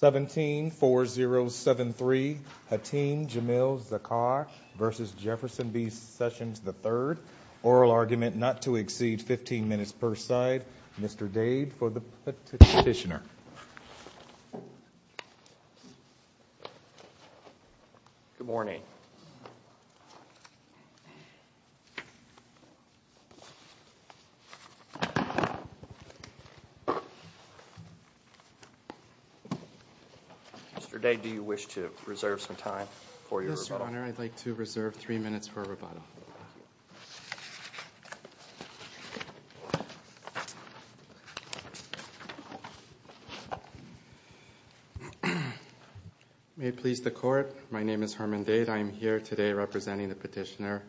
174073, Hatim Jamil Zakar v. Jefferson B. Sessions III, Oral Argument Not to Exceed Mr. Dade, do you wish to reserve some time for your rebuttal? Yes, Your Honor. I'd like to reserve three minutes for rebuttal. May it please the Court, my name is Herman Dade. I am here today representing the petitioner,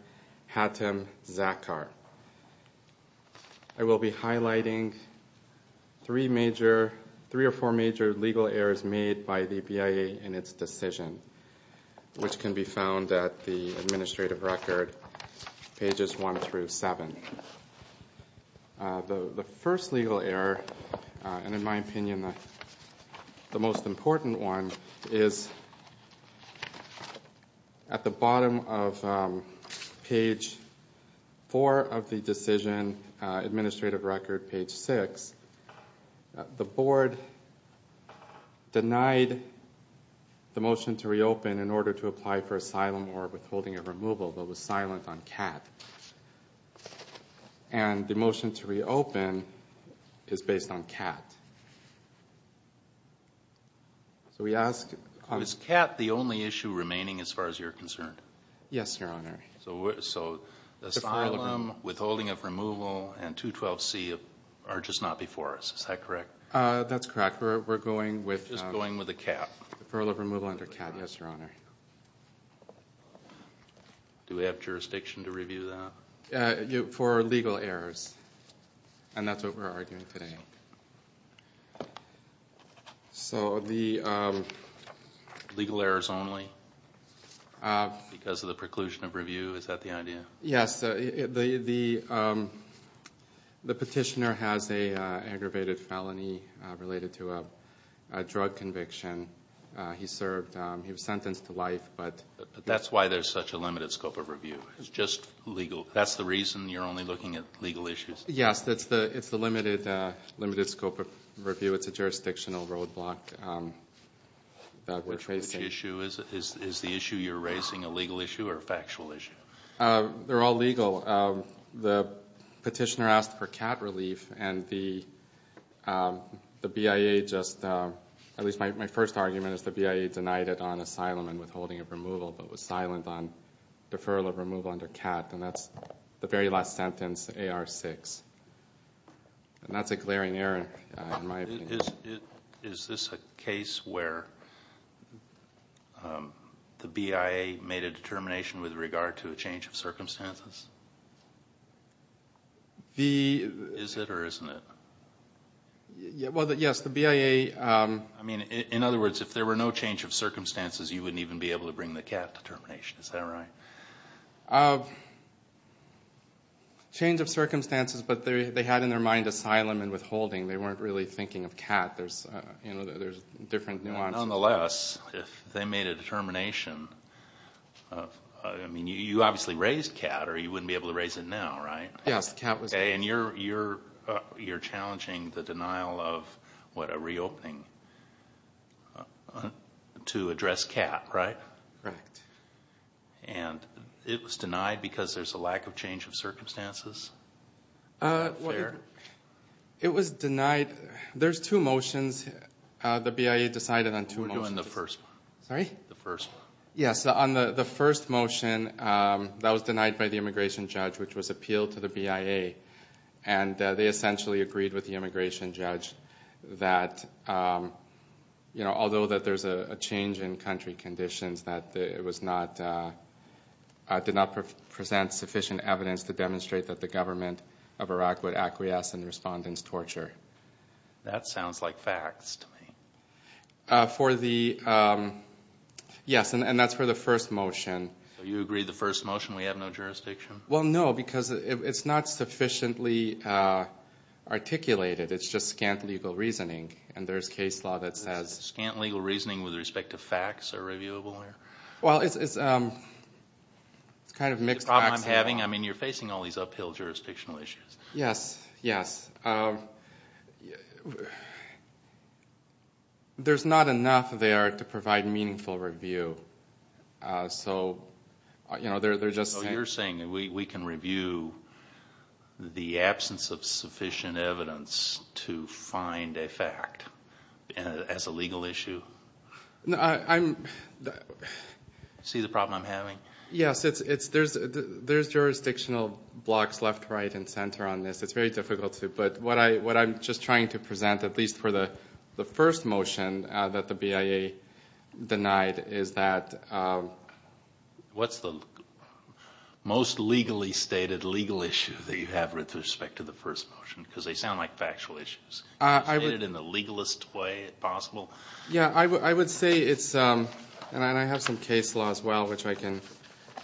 Hatim Zakar. I will be highlighting three or four major legal errors made by the BIA in its decision, which can be found at the Administrative Record, pages 1 through 7. The first legal error, and in my opinion the most important one, is at the bottom of page 4 of the decision, Administrative Record, page 6, the Board denied the motion to reopen in order to apply for asylum or withholding of removal, but was silent on CAT. And the motion to reopen is based on CAT. Is CAT the only issue remaining as far as you're concerned? Yes, Your Honor. So, asylum, withholding of removal, and 212C are just not before us, is that correct? That's correct. We're going with... Just going with the CAT? Withholding of removal under CAT, yes, Your Honor. Do we have jurisdiction to review that? For legal errors, and that's what we're arguing today. So, the... Legal errors only because of the preclusion of review, is that the idea? Yes. The petitioner has an aggravated felony related to a drug conviction. He served, he was sentenced to life, but... That's why there's such a limited scope of review. It's just legal. That's the reason you're only looking at legal issues? Yes. It's the limited scope of review. It's a jurisdictional roadblock that we're facing. Which issue is it? Is the issue you're raising a legal issue or a factual issue? They're all legal. The petitioner asked for CAT relief, and the BIA just... At least my first argument is the BIA denied it on asylum and withholding of removal, but was silent on deferral of removal under CAT. And that's the very last sentence, AR-6. And that's a glaring error, in my opinion. Is this a case where the BIA made a determination with regard to a change of circumstances? Is it or isn't it? Yes, the BIA... In other words, if there were no change of circumstances, you wouldn't even be able to bring the CAT determination. Is that right? Change of circumstances, but they had in their mind asylum and withholding. They weren't really thinking of CAT. There's different nuances. Nonetheless, if they made a determination... You obviously raised CAT or you wouldn't be able to raise it now, right? Yes, CAT was... And you're challenging the denial of a reopening to address CAT, right? Correct. And it was denied because there's a lack of change of circumstances? It was denied... There's two motions. The BIA decided on two motions. We're doing the first one. Sorry? The first one. Yes, on the first motion, that was denied by the immigration judge, which was appealed to the BIA. And they essentially agreed with the immigration judge that although there's a change in country conditions, that it did not present sufficient evidence to demonstrate that the government of Iraq would acquiesce in respondents' torture. That sounds like facts to me. Yes, and that's for the first motion. So you agree the first motion we have no jurisdiction? Well, no, because it's not sufficiently articulated. It's just scant legal reasoning, and there's case law that says... Scant legal reasoning with respect to facts are reviewable there? Well, it's kind of mixed facts. The problem I'm having, I mean, you're facing all these uphill jurisdictional issues. Yes, yes. There's not enough there to provide meaningful review. So, you know, they're just... So you're saying we can review the absence of sufficient evidence to find a fact as a legal issue? No, I'm... See the problem I'm having? Yes, there's jurisdictional blocks left, right, and center on this. It's very difficult to... What I'm just trying to present, at least for the first motion that the BIA denied, is that... What's the most legally stated legal issue that you have with respect to the first motion? Because they sound like factual issues. Can you state it in the legalest way possible? Yeah, I would say it's... And I have some case law as well, which I can...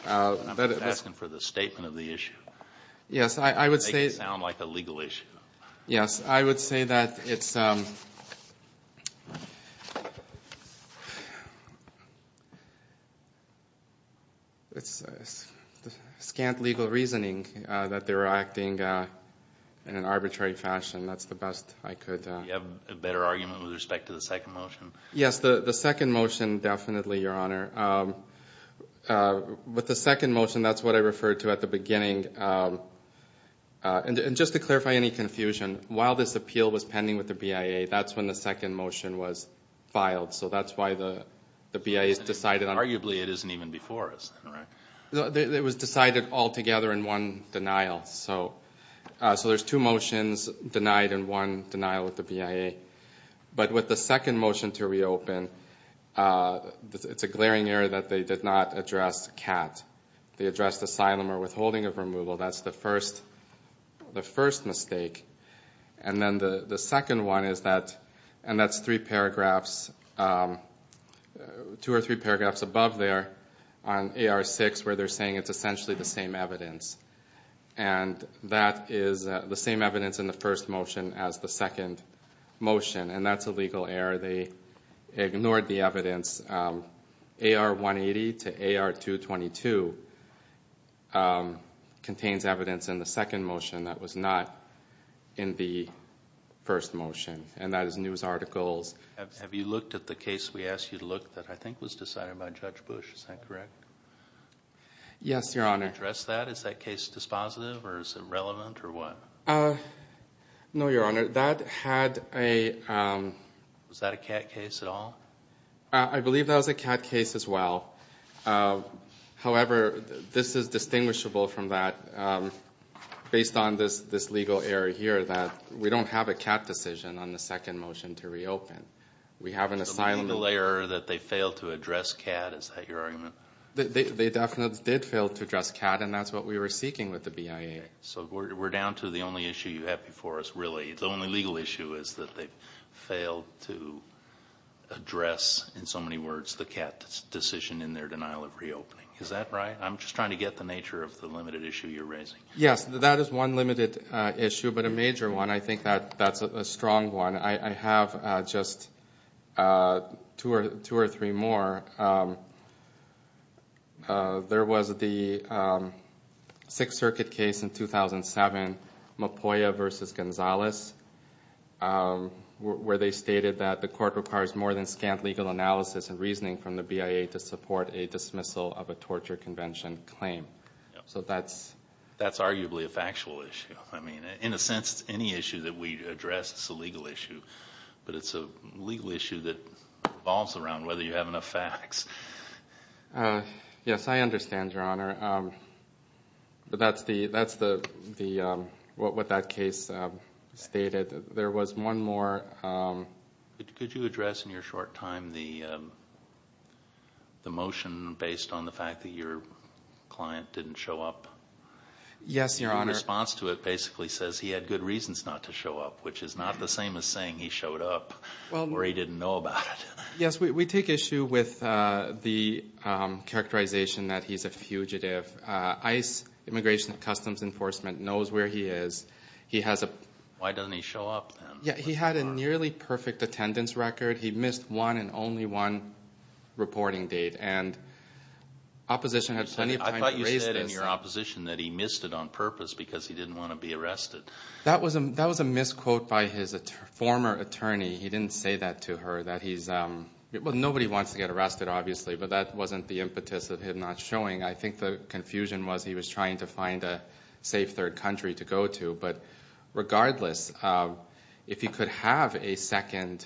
I'm asking for the statement of the issue. Yes, I would say... Yes, I would say that it's... It's scant legal reasoning that they were acting in an arbitrary fashion. That's the best I could... Do you have a better argument with respect to the second motion? Yes, the second motion, definitely, Your Honor. With the second motion, that's what I referred to at the beginning. And just to clarify any confusion, while this appeal was pending with the BIA, that's when the second motion was filed. So that's why the BIA has decided on... Arguably, it isn't even before us. It was decided altogether in one denial. So there's two motions denied and one denial with the BIA. But with the second motion to reopen, it's a glaring error that they did not address CAT. They addressed asylum or withholding of removal. That's the first mistake. And then the second one is that... And that's three paragraphs... Two or three paragraphs above there on AR-6, where they're saying it's essentially the same evidence. And that is the same evidence in the first motion as the second motion. And that's a legal error. They ignored the evidence. AR-180 to AR-222 contains evidence in the second motion that was not in the first motion. And that is news articles. Have you looked at the case we asked you to look at that I think was decided by Judge Bush? Is that correct? Yes, Your Honor. Did you address that? Is that case dispositive or is it relevant or what? No, Your Honor. That had a... Was that a CAT case at all? I believe that was a CAT case as well. However, this is distinguishable from that based on this legal error here that we don't have a CAT decision on the second motion to reopen. We have an asylum... A legal error that they failed to address CAT. Is that your argument? They definitely did fail to address CAT, and that's what we were seeking with the BIA. So we're down to the only issue you have before us really. The only legal issue is that they failed to address, in so many words, the CAT decision in their denial of reopening. Is that right? I'm just trying to get the nature of the limited issue you're raising. Yes, that is one limited issue, but a major one. I think that's a strong one. I have just two or three more. There was the Sixth Circuit case in 2007, Mopoya v. Gonzalez, where they stated that the court requires more than scant legal analysis and reasoning from the BIA to support a dismissal of a torture convention claim. So that's... That's arguably a factual issue. I mean, in a sense, any issue that we address is a legal issue, but it's a legal issue that revolves around whether you have enough facts. Yes, I understand, Your Honor. That's what that case stated. There was one more. Could you address in your short time the motion based on the fact that your client didn't show up? Yes, Your Honor. Your response to it basically says he had good reasons not to show up, which is not the same as saying he showed up or he didn't know about it. Yes, we take issue with the characterization that he's a fugitive. ICE, Immigration and Customs Enforcement, knows where he is. He has a... Why doesn't he show up then? He had a nearly perfect attendance record. He missed one and only one reporting date, and opposition had plenty of time to raise this. I thought you said in your opposition that he missed it on purpose because he didn't want to be arrested. That was a misquote by his former attorney. He didn't say that to her, that he's... Well, nobody wants to get arrested, obviously, but that wasn't the impetus of him not showing. I think the confusion was he was trying to find a safe third country to go to. But regardless, if he could have a second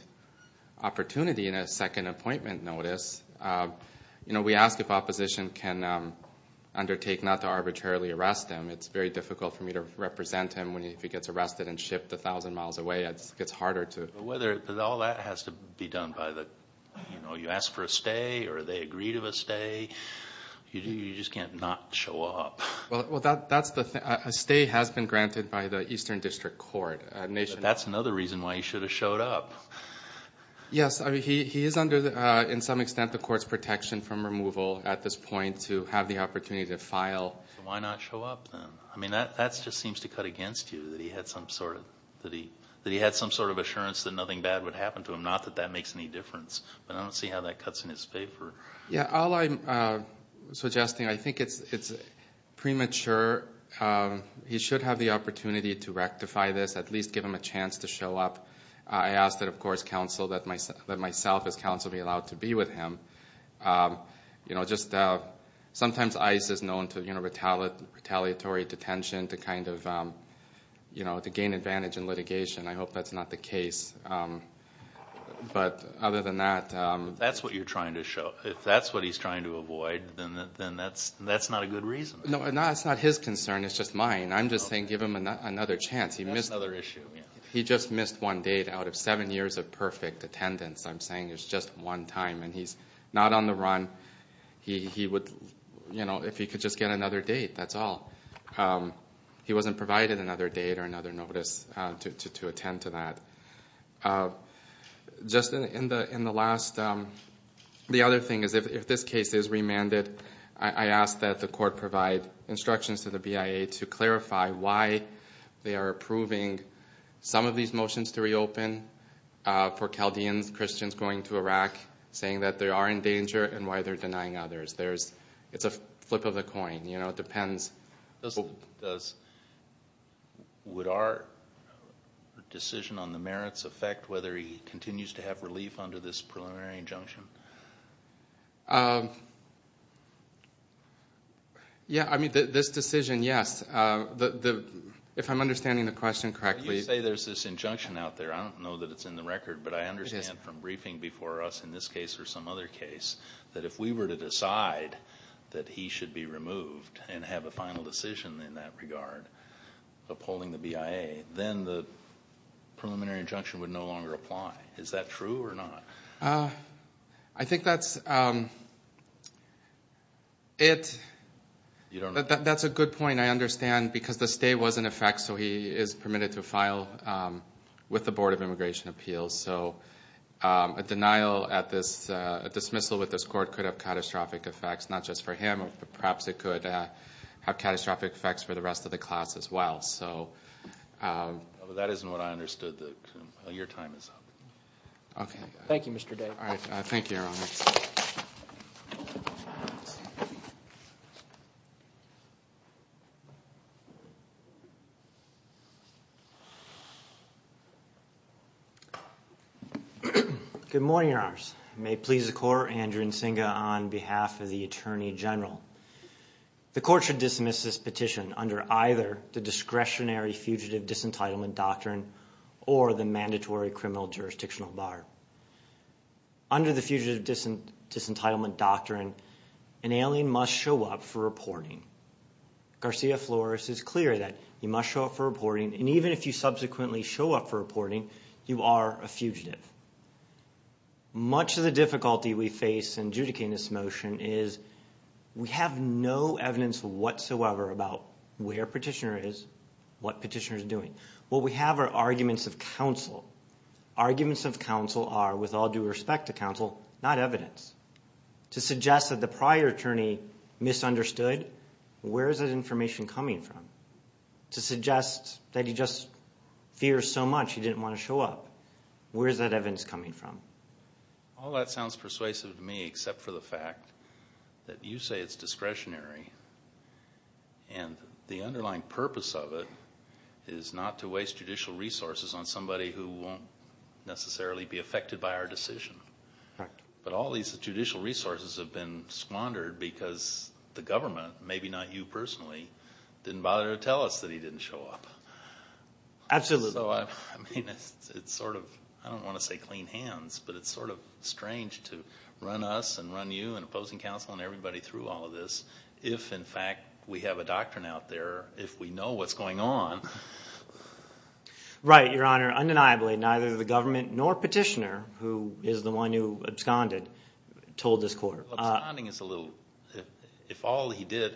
opportunity and a second appointment notice, we ask if opposition can undertake not to arbitrarily arrest him. It's very difficult for me to represent him if he gets arrested and shipped 1,000 miles away. It gets harder to... Whether all that has to be done by the... You ask for a stay or they agree to a stay. You just can't not show up. Well, that's the thing. A stay has been granted by the Eastern District Court. That's another reason why he should have showed up. Yes. He is under, in some extent, the court's protection from removal at this point to have the opportunity to file. Why not show up, then? That just seems to cut against you, that he had some sort of assurance that nothing bad would happen to him, not that that makes any difference. But I don't see how that cuts in his favor. All I'm suggesting, I think it's premature. He should have the opportunity to rectify this, at least give him a chance to show up. I ask that, of course, counsel, that myself as counsel, be allowed to be with him. Sometimes ICE is known to retaliatory detention to gain advantage in litigation. I hope that's not the case. But other than that... That's what you're trying to show. If that's what he's trying to avoid, then that's not a good reason. No, it's not his concern. It's just mine. I'm just saying give him another chance. That's another issue. He just missed one date out of seven years of perfect attendance. I'm saying it's just one time. He's not on the run. If he could just get another date, that's all. He wasn't provided another date or another notice to attend to that. Just in the last... The other thing is if this case is remanded, I ask that the court provide instructions to the BIA to clarify why they are approving some of these motions to reopen for Chaldeans, Christians going to Iraq, saying that they are in danger and why they're denying others. It's a flip of the coin. It depends. Would our decision on the merits affect whether he continues to have relief under this preliminary injunction? This decision, yes. If I'm understanding the question correctly... You say there's this injunction out there. I don't know that it's in the record, but I understand from briefing before us in this case or some other case that if we were to decide that he should be removed and have a final decision in that regard upholding the BIA, then the preliminary injunction would no longer apply. Is that true or not? I think that's a good point. I understand because the stay was in effect, so he is permitted to file with the Board of Immigration Appeals. A denial at this dismissal with this court could have catastrophic effects, not just for him, but perhaps it could have catastrophic effects for the rest of the class as well. That isn't what I understood. Your time is up. Thank you, Mr. Day. Thank you, Your Honor. Good morning, Your Honors. It may please the Court, Andrew Nsinga on behalf of the Attorney General. The Court should dismiss this petition under either the discretionary fugitive disentitlement doctrine or the mandatory criminal jurisdictional bar. Under the fugitive disentitlement doctrine, an alien must show up for reporting. Garcia-Flores is clear that you must show up for reporting, and even if you subsequently show up for reporting, you are a fugitive. Much of the difficulty we face in adjudicating this motion is we have no evidence whatsoever about where Petitioner is, what Petitioner is doing. What we have are arguments of counsel. Arguments of counsel are, with all due respect to counsel, not evidence. To suggest that the prior attorney misunderstood, where is that information coming from? To suggest that he just fears so much he didn't want to show up, where is that evidence coming from? All that sounds persuasive to me except for the fact that you say it's discretionary and the underlying purpose of it is not to waste judicial resources on somebody who won't necessarily be affected by our decision. But all these judicial resources have been squandered because the government, maybe not you personally, didn't bother to tell us that he didn't show up. I don't want to say clean hands, but it's sort of strange to run us and run you and opposing counsel and everybody through all of this if, in fact, we have a doctrine out there, if we know what's going on. Right, Your Honor, undeniably neither the government nor Petitioner, who is the one who absconded, told this court. Absconding is a little, if all he did,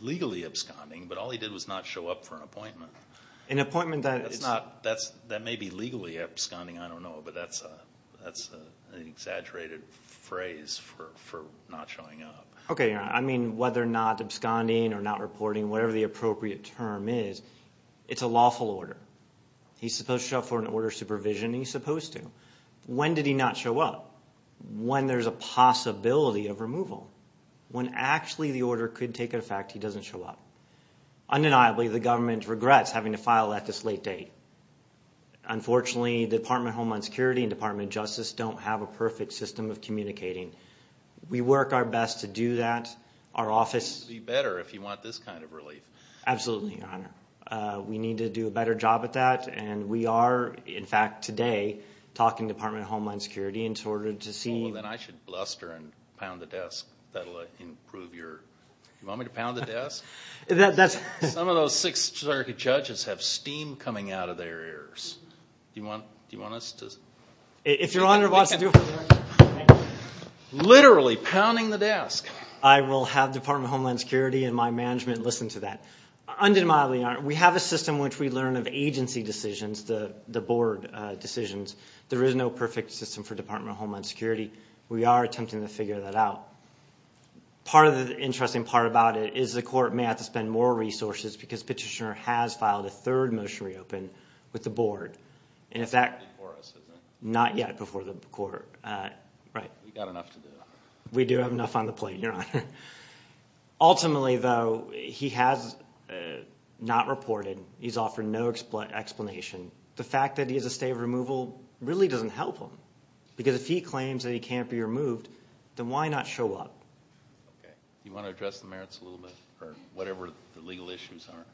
legally absconding, but all he did was not show up for an appointment. An appointment that is... That may be legally absconding, I don't know, but that's an exaggerated phrase for not showing up. Okay, Your Honor, I mean whether or not absconding or not reporting, whatever the appropriate term is, it's a lawful order. He's supposed to show up for an order of supervision and he's supposed to. When did he not show up? When there's a possibility of removal. When actually the order could take effect, he doesn't show up. Undeniably, the government regrets having to file that this late date. Unfortunately, the Department of Homeland Security and Department of Justice don't have a perfect system of communicating. We work our best to do that. Our office... It would be better if you want this kind of relief. Absolutely, Your Honor. We need to do a better job at that, and we are, in fact, today, talking to Department of Homeland Security in order to see... Well, then I should bluster and pound the desk. That will improve your... You want me to pound the desk? Some of those Sixth Circuit judges have steam coming out of their ears. Do you want us to... If Your Honor wants to do it... Literally pounding the desk. I will have Department of Homeland Security and my management listen to that. Undeniably, we have a system which we learn of agency decisions, the board decisions. There is no perfect system for Department of Homeland Security. We are attempting to figure that out. Part of the interesting part about it is the court may have to spend more resources because Petitioner has filed a third motion to reopen with the board. And, in fact... Before us, isn't it? Not yet before the court. We've got enough to do, Your Honor. We do have enough on the plate, Your Honor. Ultimately, though, he has not reported. He's offered no explanation. The fact that he has a stay of removal really doesn't help him Do you want to address the merits a little bit? Or whatever the legal issues are?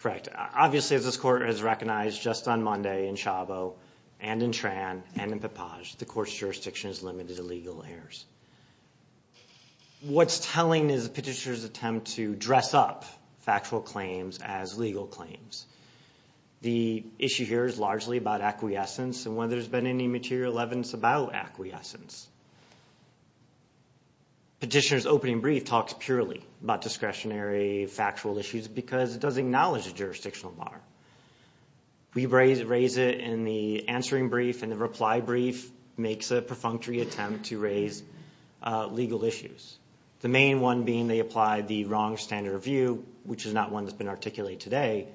Correct. Obviously, as this court has recognized just on Monday in Chavo and in Tran and in Papage, the court's jurisdiction is limited to legal errors. What's telling is Petitioner's attempt to dress up factual claims as legal claims. The issue here is largely about acquiescence and whether there's been any material evidence about acquiescence. Petitioner's opening brief talks purely about discretionary factual issues because it doesn't acknowledge the jurisdictional bar. We raise it in the answering brief, and the reply brief makes a perfunctory attempt to raise legal issues. The main one being they apply the wrong standard of view, which is not one that's been articulated today.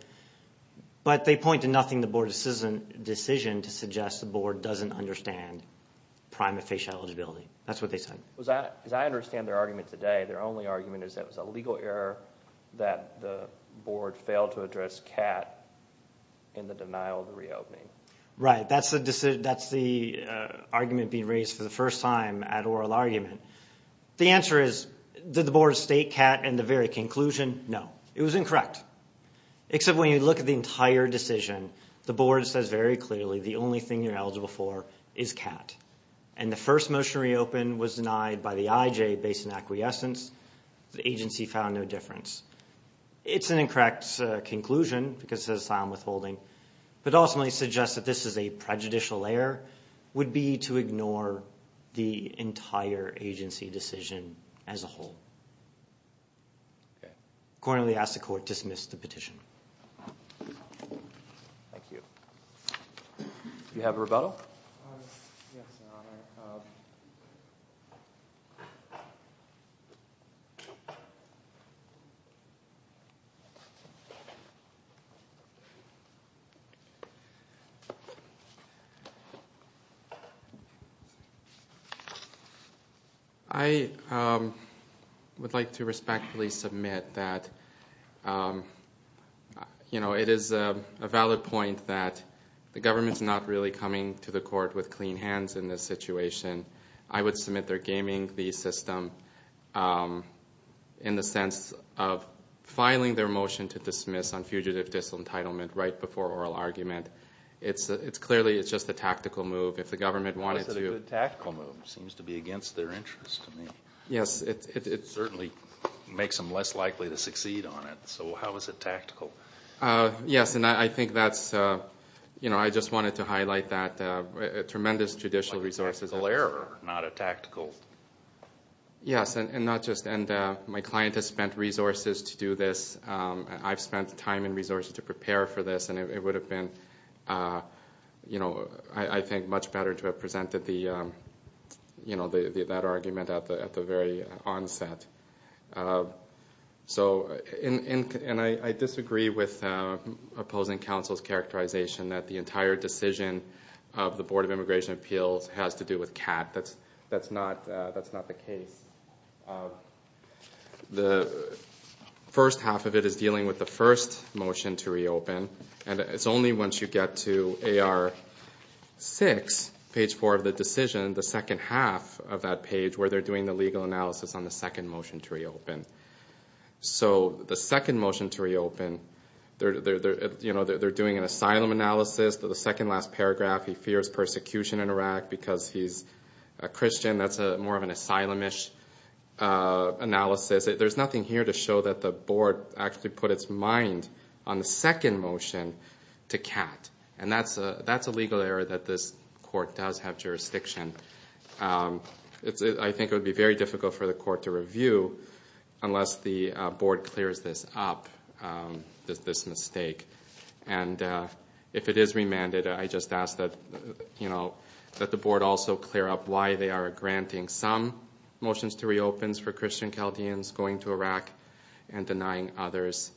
But they point to nothing in the board's decision to suggest the board doesn't understand prime and facial eligibility. That's what they said. As I understand their argument today, their only argument is that it was a legal error that the board failed to address Catt in the denial of the reopening. Right. That's the argument being raised for the first time at oral argument. The answer is, did the board state Catt in the very conclusion? No. It was incorrect. Except when you look at the entire decision, the board says very clearly the only thing you're eligible for is Catt. And the first motion to reopen was denied by the IJ based on acquiescence. The agency found no difference. It's an incorrect conclusion because it says asylum withholding, but ultimately suggests that this is a prejudicial error, would be to ignore the entire agency decision as a whole. Okay. Accordingly, I ask the court to dismiss the petition. Thank you. Do you have a rebuttal? Yes, Your Honor. Okay. I would like to respectfully submit that, you know, it is a valid point that the government's not really coming to the court with clean hands in this situation. I would submit they're gaming the system in the sense of filing their motion to dismiss on fugitive disentitlement right before oral argument. It's clearly just a tactical move. If the government wanted to. It's a good tactical move. It seems to be against their interest to me. Yes. It certainly makes them less likely to succeed on it. So how is it tactical? Yes, and I think that's, you know, I just wanted to highlight that. Tremendous judicial resources. Like a tactical error, not a tactical. Yes, and not just. And my client has spent resources to do this. I've spent time and resources to prepare for this, and it would have been, you know, I think much better to have presented the, you know, that argument at the very onset. So, and I disagree with opposing counsel's characterization that the entire decision of the Board of Immigration Appeals has to do with CAT. That's not the case. The first half of it is dealing with the first motion to reopen, and it's only once you get to AR6, page 4 of the decision, the second half of that page where they're doing the legal analysis on the second motion to reopen. So the second motion to reopen, you know, they're doing an asylum analysis. The second last paragraph, he fears persecution in Iraq because he's a Christian. That's more of an asylum-ish analysis. There's nothing here to show that the board actually put its mind on the second motion to CAT. And that's a legal error that this court does have jurisdiction. I think it would be very difficult for the court to review unless the board clears this up, this mistake. And if it is remanded, I just ask that, you know, that the board also clear up why they are granting some motions to reopen for Christian Chaldeans going to Iraq and denying others.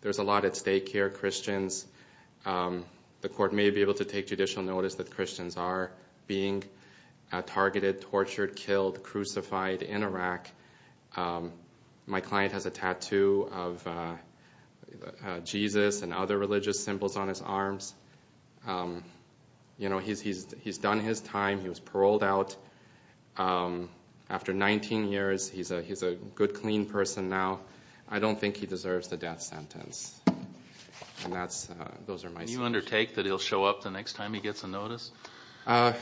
There's a lot at stake here. Christians, the court may be able to take judicial notice that Christians are being targeted, tortured, killed, crucified in Iraq. My client has a tattoo of Jesus and other religious symbols on his arms. You know, he's done his time. He was paroled out. After 19 years, he's a good, clean person now. I don't think he deserves the death sentence. And those are my thoughts. Can you undertake that he'll show up the next time he gets a notice? I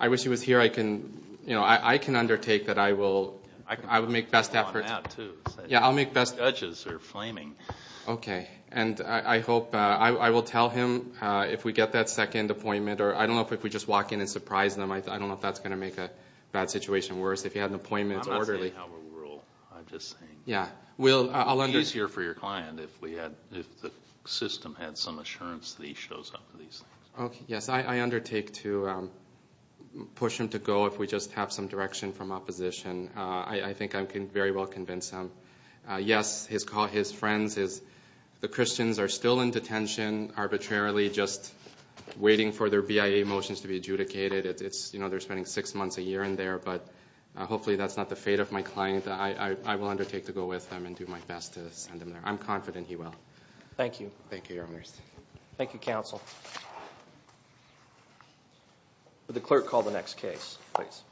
wish he was here. I can undertake that I will make best efforts. Yeah, I'll make best efforts. The judges are flaming. Okay. And I hope I will tell him if we get that second appointment. I don't know if we just walk in and surprise them. I don't know if that's going to make a bad situation worse. If he had an appointment, it's orderly. I'm not saying I have a rule. I'm just saying. Yeah. Will, I'll understand. It's easier for your client if the system had some assurance that he shows up. Yes, I undertake to push him to go if we just have some direction from opposition. I think I can very well convince him. Yes, his friends, the Christians, are still in detention arbitrarily, just waiting for their BIA motions to be adjudicated. You know, they're spending six months a year in there. But hopefully that's not the fate of my client. But I will undertake to go with him and do my best to send him there. I'm confident he will. Thank you. Thank you, Your Honor. Thank you, counsel. Would the clerk call the next case, please?